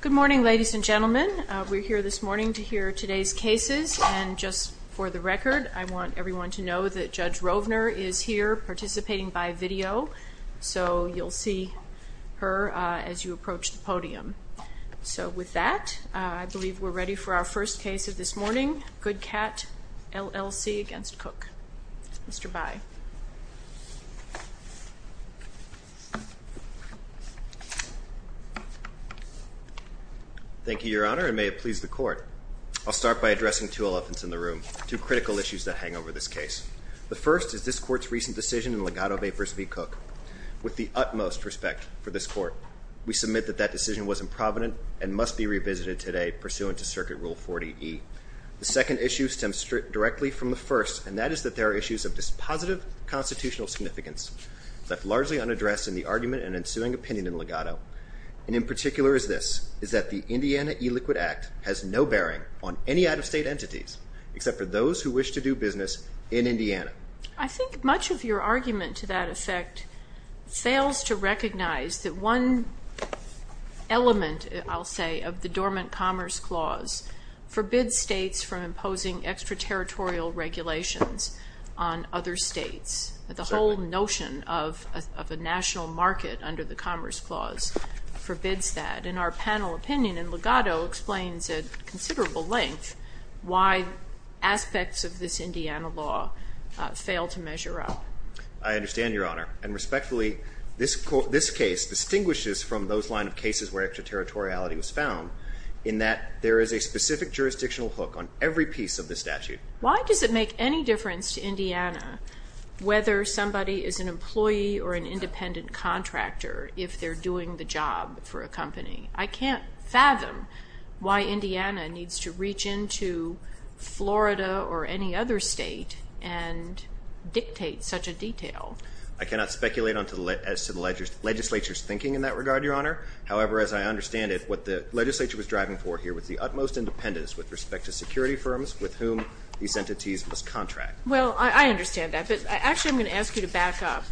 Good morning, ladies and gentlemen. We're here this morning to hear today's cases, and just for the record, I want everyone to know that Judge Rovner is here participating by video, so you'll see her as you approach the podium. So with that, I believe we're ready for our first case of this morning, Goodcat, LLC against David Cook. Mr. Bai. Mr. Bai Thank you, Your Honor, and may it please the Court. I'll start by addressing two elephants in the room, two critical issues that hang over this case. The first is this Court's recent decision in Legato v. Cook. With the utmost respect for this Court, we submit that that decision was improvident and must be revisited today pursuant to Circuit Rule 40E. The second issue stems directly from the first, and that is that there are issues of dispositive constitutional significance that are largely unaddressed in the argument and ensuing opinion in Legato. And in particular is this, is that the Indiana E-Liquid Act has no bearing on any out-of-state entities except for those who wish to do business in Indiana. I think much of your argument to that effect fails to recognize that one element, I'll under the Commerce Clause, forbids states from imposing extraterritorial regulations on other states. The whole notion of a national market under the Commerce Clause forbids that. And our panel opinion in Legato explains at considerable length why aspects of this Indiana law fail to measure up. Mr. Cook I understand, Your Honor. And respectfully, this case distinguishes from those line of cases where extraterritoriality was found in that there is a specific jurisdictional hook on every piece of the statute. Why does it make any difference to Indiana whether somebody is an employee or an independent contractor if they're doing the job for a company? I can't fathom why Indiana needs to reach into Florida or any other state and dictate such a detail. I cannot speculate as to the legislature's thinking in that regard, Your Honor. However, as I understand it, what the legislature was driving for here was the utmost independence with respect to security firms with whom these entities must contract. Well, I understand that, but actually I'm going to ask you to back up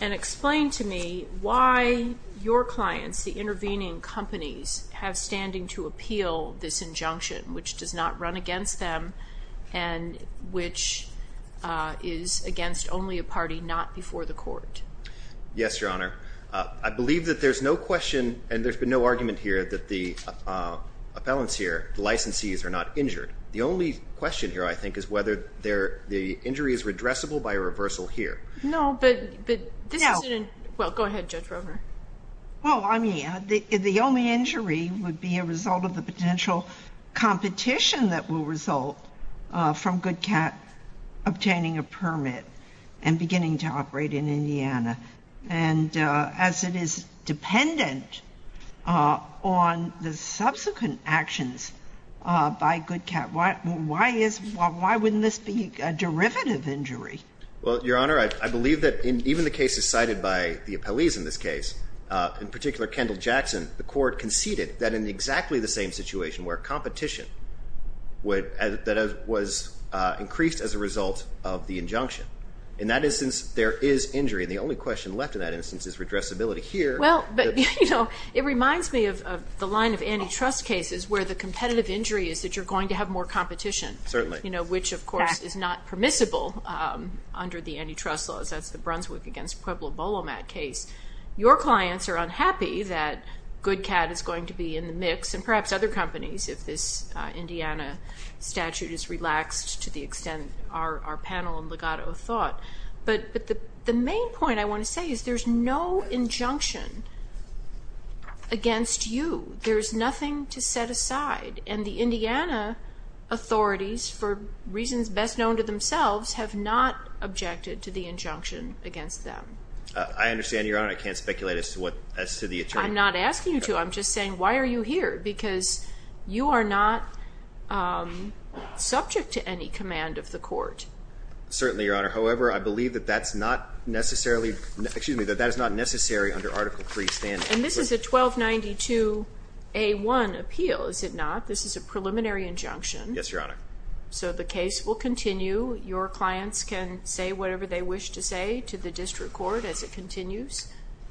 and explain to me why your clients, the intervening companies, have standing to appeal this injunction, which does not run against them and which is against only a party not before the court. Yes, Your Honor. I believe that there's no question and there's been no argument here that the appellants here, the licensees, are not injured. The only question here, I think, is whether the injury is redressable by a reversal here. No, but this is an— Well, go ahead, Judge Rovner. Well, I mean, the only injury would be a result of the potential competition that will result from GoodCat obtaining a permit and beginning to operate in Indiana. And as it is dependent on the subsequent actions by GoodCat, why is—why wouldn't this be a derivative injury? Well, Your Honor, I believe that even the cases cited by the appellees in this case, in particular Kendall Jackson, the court conceded that in exactly the same situation where competition would—that was increased as a result of the injunction. In that instance, there is injury. The only question left in that instance is redressability here. Well, but, you know, it reminds me of the line of antitrust cases where the competitive injury is that you're going to have more competition. Certainly. You know, which, of course, is not permissible under the antitrust laws. That's the Brunswick against Pueblo-Bolomat case. Your clients are unhappy that GoodCat is going to be in the mix and perhaps other companies if this Indiana statute is relaxed to the extent our panel and legato thought. But the main point I want to say is there's no injunction against you. There's nothing to set aside. And the Indiana authorities, for reasons best known to themselves, have not objected to the injunction against them. I understand, Your Honor. I can't speculate as to what—as to the attorney. I'm not asking you to. I'm just saying, why are you here? Because you are not subject to any command of the court. Certainly, Your Honor. However, I believe that that's not necessarily—excuse me, that that is not necessary under Article 3 standing. And this is a 1292A1 appeal, is it not? This is a preliminary injunction. Yes, Your Honor. So the case will continue. Your clients can say whatever they wish to say to the district court as it continues?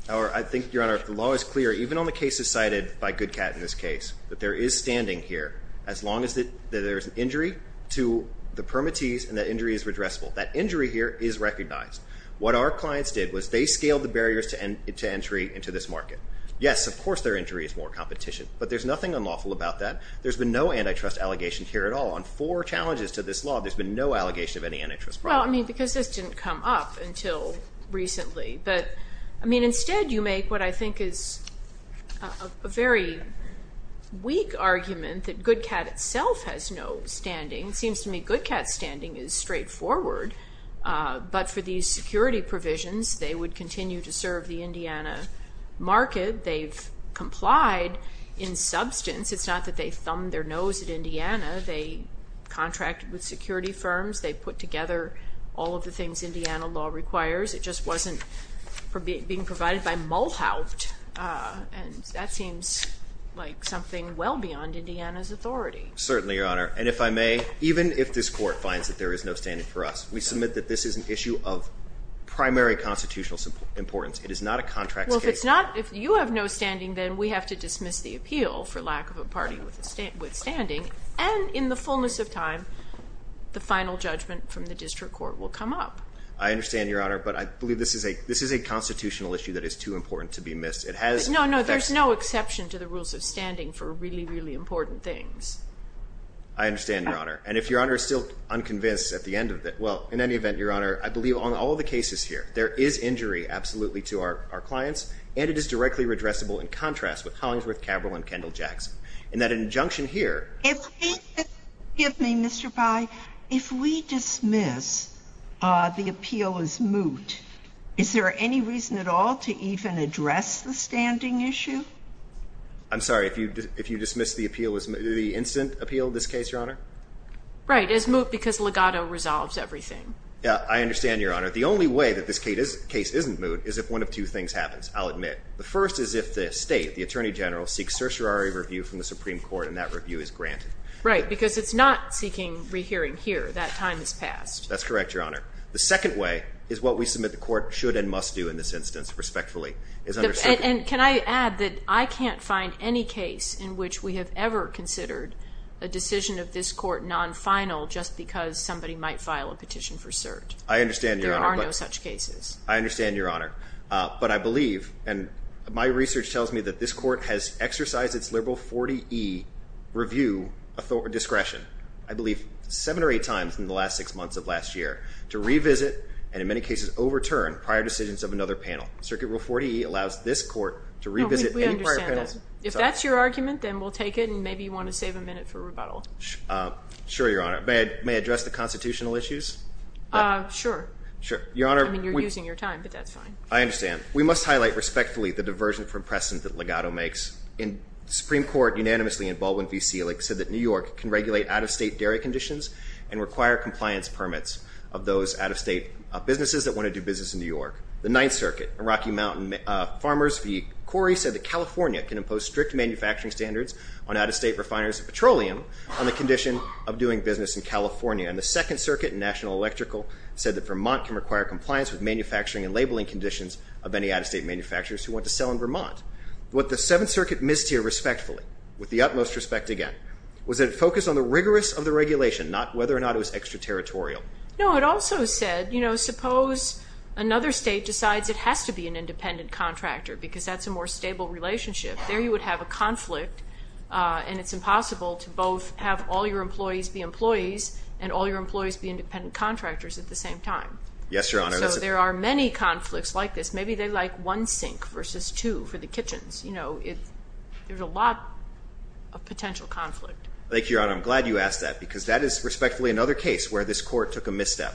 I think, Your Honor, if the law is clear, even on the cases cited by GoodCat in this case, that there is standing here, as long as there is an injury to the permittees and that injury is redressable. That injury here is recognized. What our clients did was they scaled the barriers to entry into this market. Yes, of course, their injury is more competition. But there's nothing unlawful about that. There's been no antitrust allegation here at all. On four challenges to this law, there's been no allegation of any antitrust problem. Well, I mean, because this didn't come up until recently. But, I mean, instead you make what I think is a very weak argument that GoodCat itself has no standing. It seems to me GoodCat's standing is straightforward. But for these security provisions, they would continue to serve the Indiana market. They've complied in substance. It's not that they thumbed their nose at Indiana. They contracted with security firms. They put together all of the things Indiana law requires. It just wasn't being provided by mullhound and that seems like something well beyond Indiana's authority. Certainly, Your Honor. And if I may, even if this court finds that there is no standing for us, we submit that this is an issue of primary constitutional importance. It is not a contract. Well, if it's not, if you have no standing, then we have to dismiss the appeal for lack of a party with standing and in the fullness of time, the final judgment from the district court will come up. I understand, Your Honor, but I believe this is a constitutional issue that is too important to be missed. It has... No, no. There's no exception to the rules of standing for really, really important things. I understand, Your Honor. And if Your Honor is still unconvinced at the end of it, well, in any event, Your Honor, I believe on all of the cases here, there is injury absolutely to our clients and it is directly redressable in contrast with Hollingsworth, Cabral, and Kendall-Jackson. In that injunction here... If we dismiss the appeal as moot, is there any reason at all to even address the standing issue? I'm sorry, if you dismiss the appeal as moot, the instant appeal in this case, Your Honor? Right, as moot because legato resolves everything. Yeah, I understand, Your Honor. The only way that this case isn't moot is if one of two things happens, I'll admit. The first is if the state, the attorney general, seeks certiorari review from the Supreme Court and that review is granted. Right, because it's not seeking rehearing here. That time has passed. That's correct, Your Honor. The second way is what we submit the court should and must do in this instance, respectfully. And can I add that I can't find any case in which we have ever considered a decision of this court non-final just because somebody might file a petition for cert. I understand, Your Honor. There are no such cases. I understand, Your Honor. But I believe, and my research tells me that this court has exercised its liberal 40E review discretion, I believe seven or eight times in the last six months of last year, to revisit and in many cases overturn prior decisions of another panel. Circuit rule 40E allows this court to revisit any prior panel. No, we understand that. If that's your argument, then we'll take it and maybe you want to save a minute for rebuttal. Sure, Your Honor. May I address the constitutional issues? Sure. Sure. Your Honor, we- I mean, you're using your time, but that's fine. I understand. We must highlight respectfully the diversion from precedent that Legato makes. In Supreme Court, unanimously in Baldwin v. Selig, said that New York can regulate out-of-state dairy conditions and require compliance permits of those out-of-state businesses that want to do business in New York. The Ninth Circuit in Rocky Mountain Farmers v. Corey said that California can impose strict manufacturing standards on out-of-state refiners of petroleum on the condition of doing business in California. And the Second Circuit in National Electrical said that Vermont can require compliance with manufacturing and labeling conditions of any out-of-state manufacturers who want to sell in Vermont. What the Seventh Circuit missed here respectfully, with the utmost respect again, was that it focused on the rigorous of the regulation, not whether or not it was extraterritorial. No, it also said, you know, suppose another state decides it has to be an independent contractor because that's a more stable relationship. There you would have a conflict and it's impossible to both have all your employees be employees and all your employees be independent contractors at the same time. Yes, Your Honor. So there are many conflicts like this. Maybe they like one sink versus two for the kitchens. You know, there's a lot of potential conflict. Thank you, Your Honor. I'm glad you asked that because that is respectfully another case where this Court took a misstep.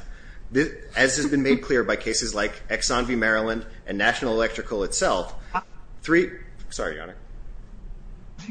As has been made clear by cases like Exxon v. Maryland and National Electrical itself, three, sorry, Your Honor.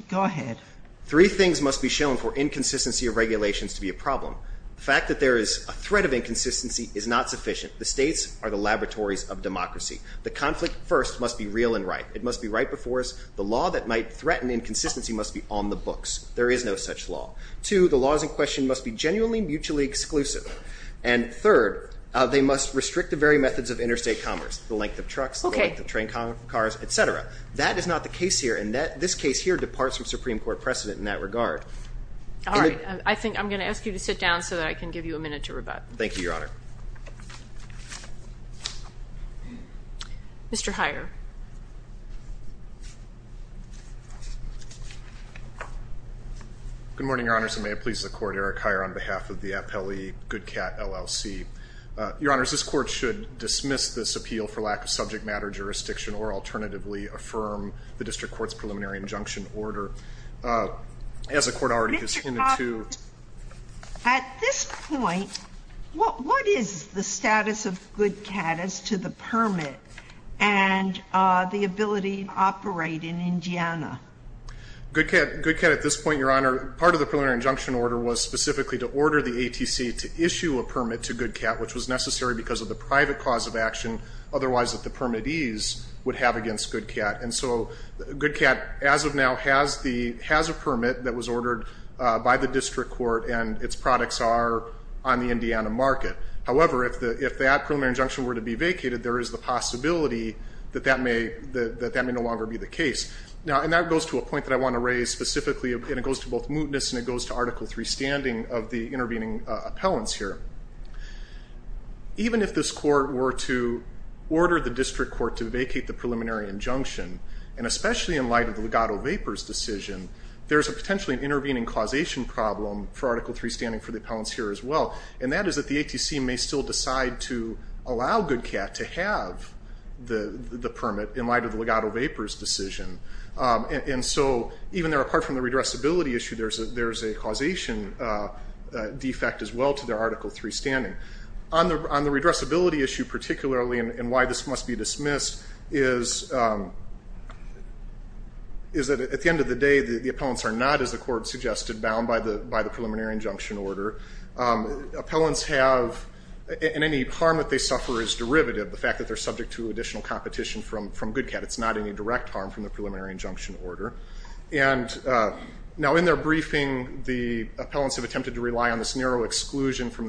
Go ahead. Three things must be shown for inconsistency of regulations to be a problem. The fact that there is a threat of inconsistency is not sufficient. The states are the laboratories of democracy. The conflict first must be real and right. It must be right before us. The law that might threaten inconsistency must be on the books. There is no such law. Two, the laws in question must be genuinely mutually exclusive. And third, they must restrict the very methods of interstate commerce, the length of trucks, the length of train cars, et cetera. That is not the case here, and this case here departs from Supreme Court precedent in that regard. All right. I think I'm going to ask you to sit down so that I can give you a minute to rebut. Thank you, Your Honor. Mr. Heyer. Good morning, Your Honors, and may it please the Court, Eric Heyer on behalf of the Appellee GoodCat LLC. Your Honors, this Court should dismiss this appeal for lack of subject matter jurisdiction or alternatively affirm the district court's preliminary injunction order. As the Court already has hinted to Mr. Coffman, at this point, what is the status of GoodCat as to the permit and the ability to operate in Indiana? GoodCat at this point, Your Honor, part of the preliminary injunction order was specifically to order the ATC to issue a permit to GoodCat, which was necessary because of the private cause of action otherwise that the permittees would have against GoodCat. And so GoodCat, as of now, has a permit that was ordered by the district court, and its products are on the Indiana market. However, if that preliminary injunction were to be vacated, there is the possibility that that may no longer be the case. And that goes to a point that I want to raise specifically, and it goes to both mootness and it goes to Article III standing of the intervening appellants here. Even if this court were to order the district court to vacate the preliminary injunction, and especially in light of the Legato Vapors decision, there's a potentially intervening causation problem for Article III standing for the appellants here as well. And that is that the ATC may still decide to allow GoodCat to have the permit in light of the Legato Vapors decision. And so even there, apart from the redressability issue, there's a causation defect as well to their Article III standing. On the redressability issue particularly, and why this must be dismissed, is that at the end of the day, the appellants are not, as the court suggested, bound by the preliminary injunction order. Appellants have, and any harm that they suffer is derivative, the fact that they're subject to additional competition from GoodCat. It's not any direct harm from the preliminary injunction order. And now in their briefing, the appellants have attempted to rely on this narrow exclusion from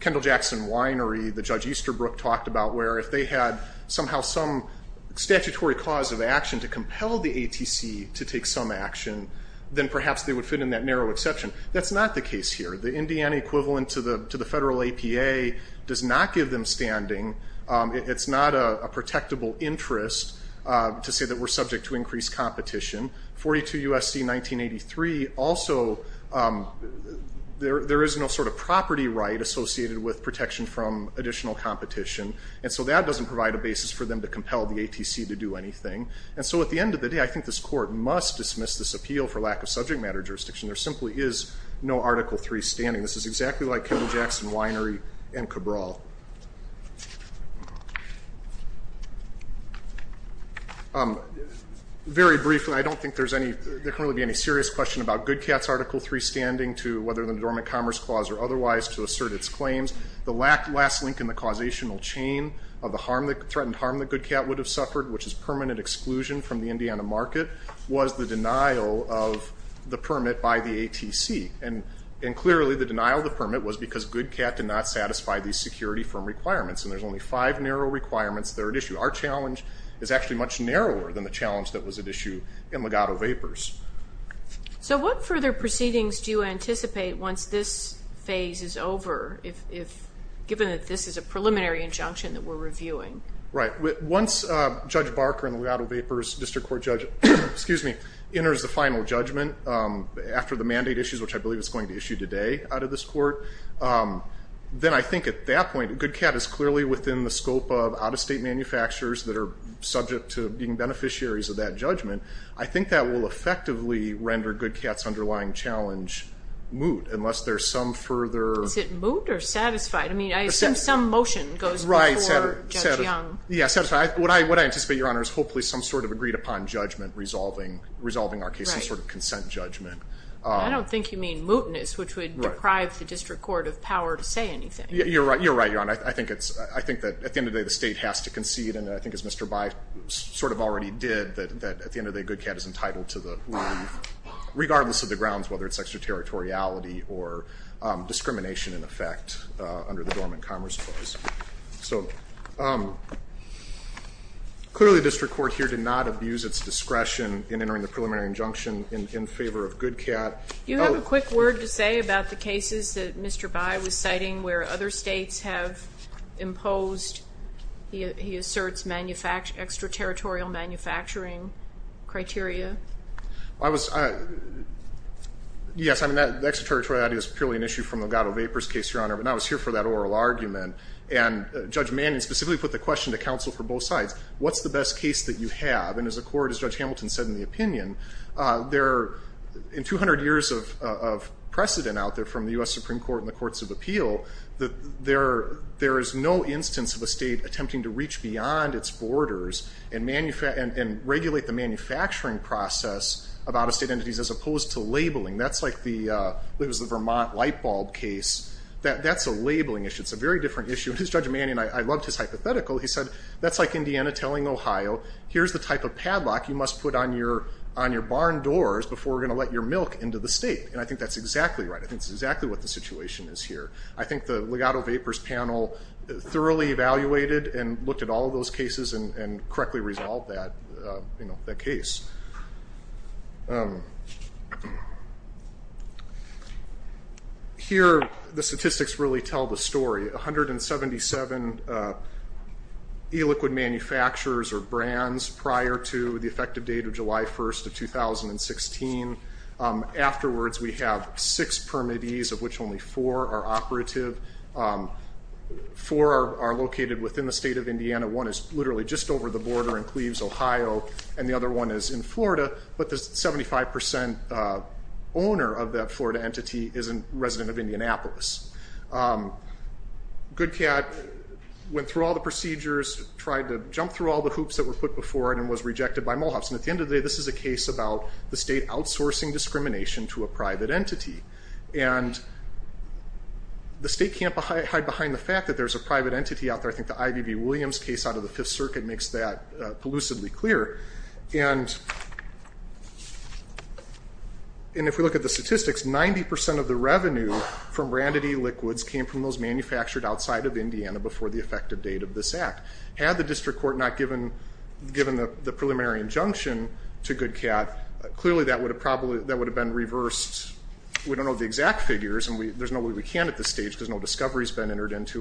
Kendall Jackson Winery, the Judge Easterbrook talked about, where if they had somehow some statutory cause of action to compel the ATC to take some action, then perhaps they would fit in that narrow exception. That's not the case here. The Indiana equivalent to the federal APA does not give them standing. It's not a protectable interest to say that we're subject to increased competition. 42 U.S.C. 1983 also, there is no sort of property right associated with protection from additional competition, and so that doesn't provide a basis for them to compel the ATC to do anything. And so at the end of the day, I think this court must dismiss this appeal for lack of subject matter jurisdiction. There simply is no Article III standing. This is exactly like Kendall Jackson Winery and Cabral. Very briefly, I don't think there can really be any serious question about GoodCat's Article III standing to whether the Dormant Commerce Clause or otherwise to assert its claims. The last link in the causational chain of the threatened harm that GoodCat would have suffered, which is permanent exclusion from the Indiana market, was the denial of the permit by the ATC. And clearly, the denial of the permit was because GoodCat did not satisfy these security firm requirements. And there's only five narrow requirements that are at issue. Our challenge is actually much narrower than the challenge that was at issue in Legato Vapors. So what further proceedings do you anticipate once this phase is over, given that this is a preliminary injunction that we're reviewing? Right. Once Judge Barker and the Legato Vapors District Court judge, excuse me, enters the final judgment after the mandate issues, which I believe it's going to issue today out of this court, then I think at that point, GoodCat is clearly within the scope of out-of-state manufacturers that are subject to being beneficiaries of that judgment. I think that will effectively render GoodCat's underlying challenge moot unless there's some further... Is it moot or satisfied? I mean, I assume some motion goes before Judge Young. Right. Yeah, satisfied. What I anticipate, Your Honor, is hopefully some sort of agreed-upon judgment resolving our case. Right. Some sort of consent judgment. I don't think you mean mootness, which would deprive the district court of power to say anything. You're right. You're right, Your Honor. I think that at the end of the day, the state has to concede, and I think as Mr. By sort of already did, that at the end of the day, GoodCat is entitled to the ruling, regardless of the grounds, whether it's extraterritoriality or discrimination in effect under the Dormant Commerce Clause. So clearly the district court here did not abuse its discretion in entering the preliminary injunction in favor of GoodCat. Do you have a quick word to say about the cases that Mr. By was citing where other states have imposed, he asserts, extraterritorial manufacturing criteria? Yes, I mean, that extraterritoriality is purely an issue from the Lugato Vapors case, Your Honor. And Judge Manning specifically put the question to counsel for both sides, what's the best case that you have? And as a court, as Judge Hamilton said in the opinion, in 200 years of precedent out there from the U.S. Supreme Court and the courts of appeal, there is no instance of a state attempting to reach beyond its borders and regulate the manufacturing process of out-of-state entities as opposed to labeling. That's like the Vermont light bulb case. That's a labeling issue. It's a very different issue. Judge Manning, I loved his hypothetical, he said, that's like Indiana telling Ohio, here's the type of padlock you must put on your barn doors before we're going to let your milk into the state. And I think that's exactly right. I think that's exactly what the situation is here. I think the Lugato Vapors panel thoroughly evaluated and looked at all of those cases and correctly resolved that case. Here, the statistics really tell the story. 177 e-liquid manufacturers or brands prior to the effective date of July 1st of 2016, afterwards we have six permittees of which only four are operative. Four are located within the state of Indiana. One is literally just over the border in Cleves, Ohio, and the other one is in Florida. But the 75% owner of that Florida entity is a resident of Indianapolis. GoodCat went through all the procedures, tried to jump through all the hoops that were put before it, and was rejected by Mohawks. And at the end of the day, this is a case about the state outsourcing discrimination to a private entity. And the state can't hide behind the fact that there's a private entity out there. I think the I.V.B. Williams case out of the Fifth Circuit makes that elusively clear. And if we look at the statistics, 90% of the revenue from branded e-liquids came from those manufactured outside of Indiana before the effective date of this act. Had the district court not given the preliminary injunction to GoodCat, clearly that would have been reversed. We don't know the exact figures, and there's no way we can at this stage because no discovery has been entered into.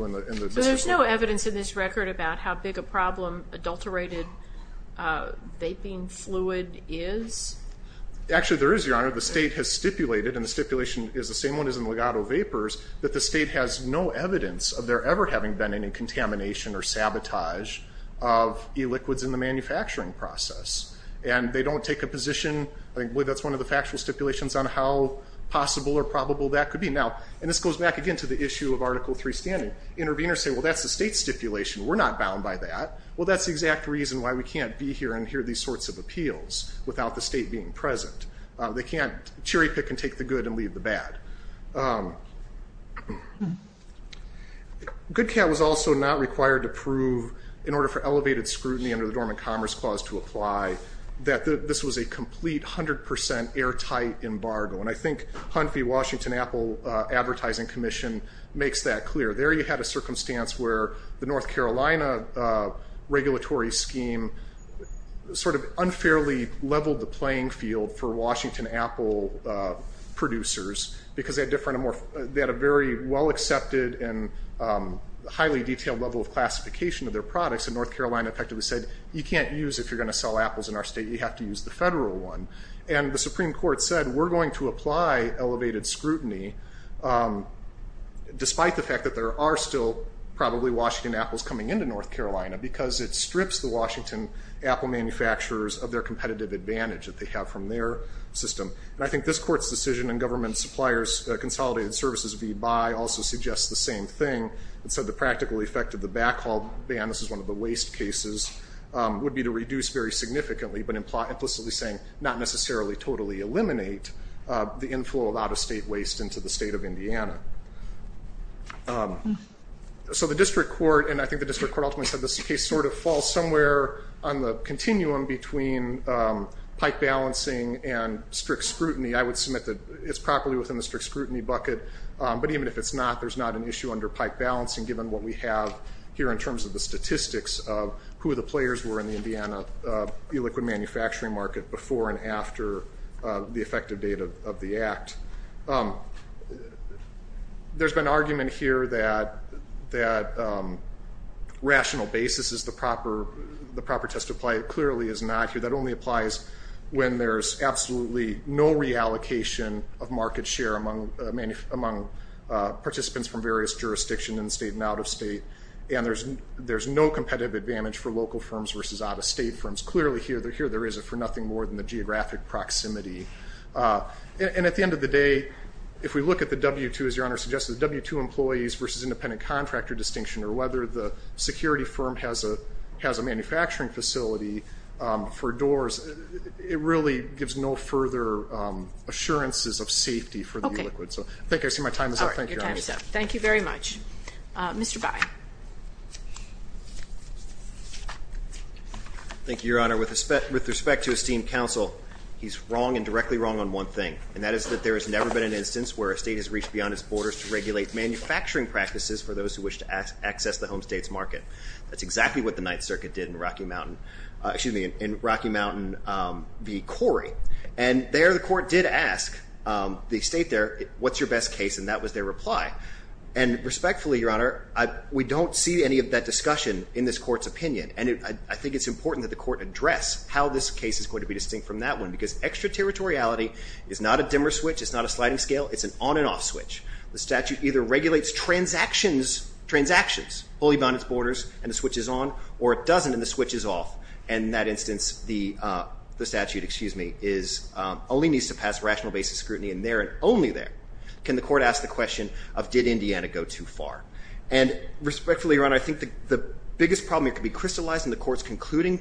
So there's no evidence in this record about how big a problem adulterated vaping fluid is? Actually, there is, Your Honor. The state has stipulated, and the stipulation is the same one as in Legato Vapors, that the state has no evidence of there ever having been any contamination or sabotage of e-liquids in the manufacturing process. And they don't take a position, I think that's one of the factual stipulations on how possible or probable that could be. Now, and this goes back again to the issue of Article III standing. Interveners say, well, that's the state's stipulation. We're not bound by that. Well, that's the exact reason why we can't be here and hear these sorts of appeals without the state being present. They can't cherry pick and take the good and leave the bad. GoodCat was also not required to prove, in order for elevated scrutiny under the Dormant Commerce Clause to apply, that this was a complete, 100% airtight embargo. And I think Hunphy Washington Apple Advertising Commission makes that clear. There you had a circumstance where the North Carolina regulatory scheme sort of unfairly leveled the playing field for Washington Apple producers, because they had a very well-accepted and highly detailed level of classification of their products, and North Carolina effectively said, you can't use it if you're going to sell apples in our state. You have to use the federal one. And the Supreme Court said, we're going to apply elevated scrutiny, despite the fact that there are still probably Washington apples coming into North Carolina, because it strips the Washington apple manufacturers of their competitive advantage that they have from their system. And I think this Court's decision in Government Suppliers Consolidated Services v. Buy also suggests the same thing. It said the practical effect of the backhaul ban, this is one of the waste cases, would be to reduce very significantly, but implicitly saying, not necessarily totally eliminate the inflow of out-of-state waste into the state of Indiana. So the District Court, and I think the District Court ultimately said this case sort of falls somewhere on the continuum between pipe balancing and strict scrutiny. I would submit that it's properly within the strict scrutiny bucket, but even if it's not, there's not an issue under pipe balancing, given what we have here in terms of the statistics of who the players were in the Indiana e-liquid manufacturing market before and after the effective date of the Act. There's been argument here that rational basis is the proper test to apply, it clearly is not here. That only applies when there's absolutely no reallocation of market share among participants from various jurisdictions in the state and out-of-state, and there's no competitive advantage for local firms versus out-of-state firms. Clearly here there is for nothing more than the geographic proximity. And at the end of the day, if we look at the W-2, as Your Honor suggested, the W-2 employees versus independent contractor distinction, or whether the security firm has a manufacturing facility for doors, it really gives no further assurances of safety for the e-liquid. So thank you. Thank you. I see my time is up. Thank you, Your Honor. Your time is up. Thank you very much. Mr. By. Thank you, Your Honor. With respect to esteemed counsel, he's wrong and directly wrong on one thing, and that is that there has never been an instance where a state has reached beyond its borders to regulate manufacturing practices for those who wish to access the home state's market. v. Corey. And there the court did ask the state there, what's your best case? And that was their reply. And respectfully, Your Honor, we don't see any of that discussion in this court's opinion. And I think it's important that the court address how this case is going to be distinct from that one, because extraterritoriality is not a dimmer switch. It's not a sliding scale. It's an on and off switch. The statute either regulates transactions wholly beyond its borders, and the switch is on, or it doesn't, and the switch is off. And in that instance, the statute, excuse me, only needs to pass rational basic scrutiny in there and only there can the court ask the question of, did Indiana go too far? And respectfully, Your Honor, I think the biggest problem that could be crystallized in the court's concluding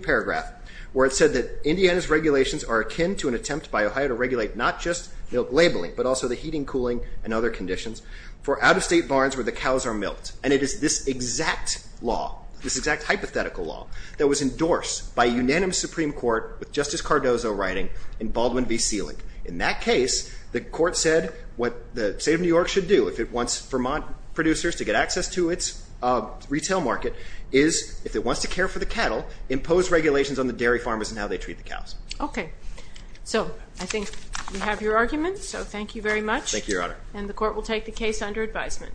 paragraph, where it said that Indiana's regulations are akin to an attempt by Ohio to regulate not just milk labeling, but also the heating, cooling, and other conditions for out-of-state barns where the cows are milked. And it is this exact law, this exact hypothetical law, that was endorsed by a unanimous Supreme Court with Justice Cardozo writing in Baldwin v. Selig. In that case, the court said what the state of New York should do if it wants Vermont producers to get access to its retail market is, if it wants to care for the cattle, impose regulations on the dairy farmers and how they treat the cows. Okay. So I think we have your argument, so thank you very much. Thank you, Your Honor. And the court will take the case under advisement. Thank you.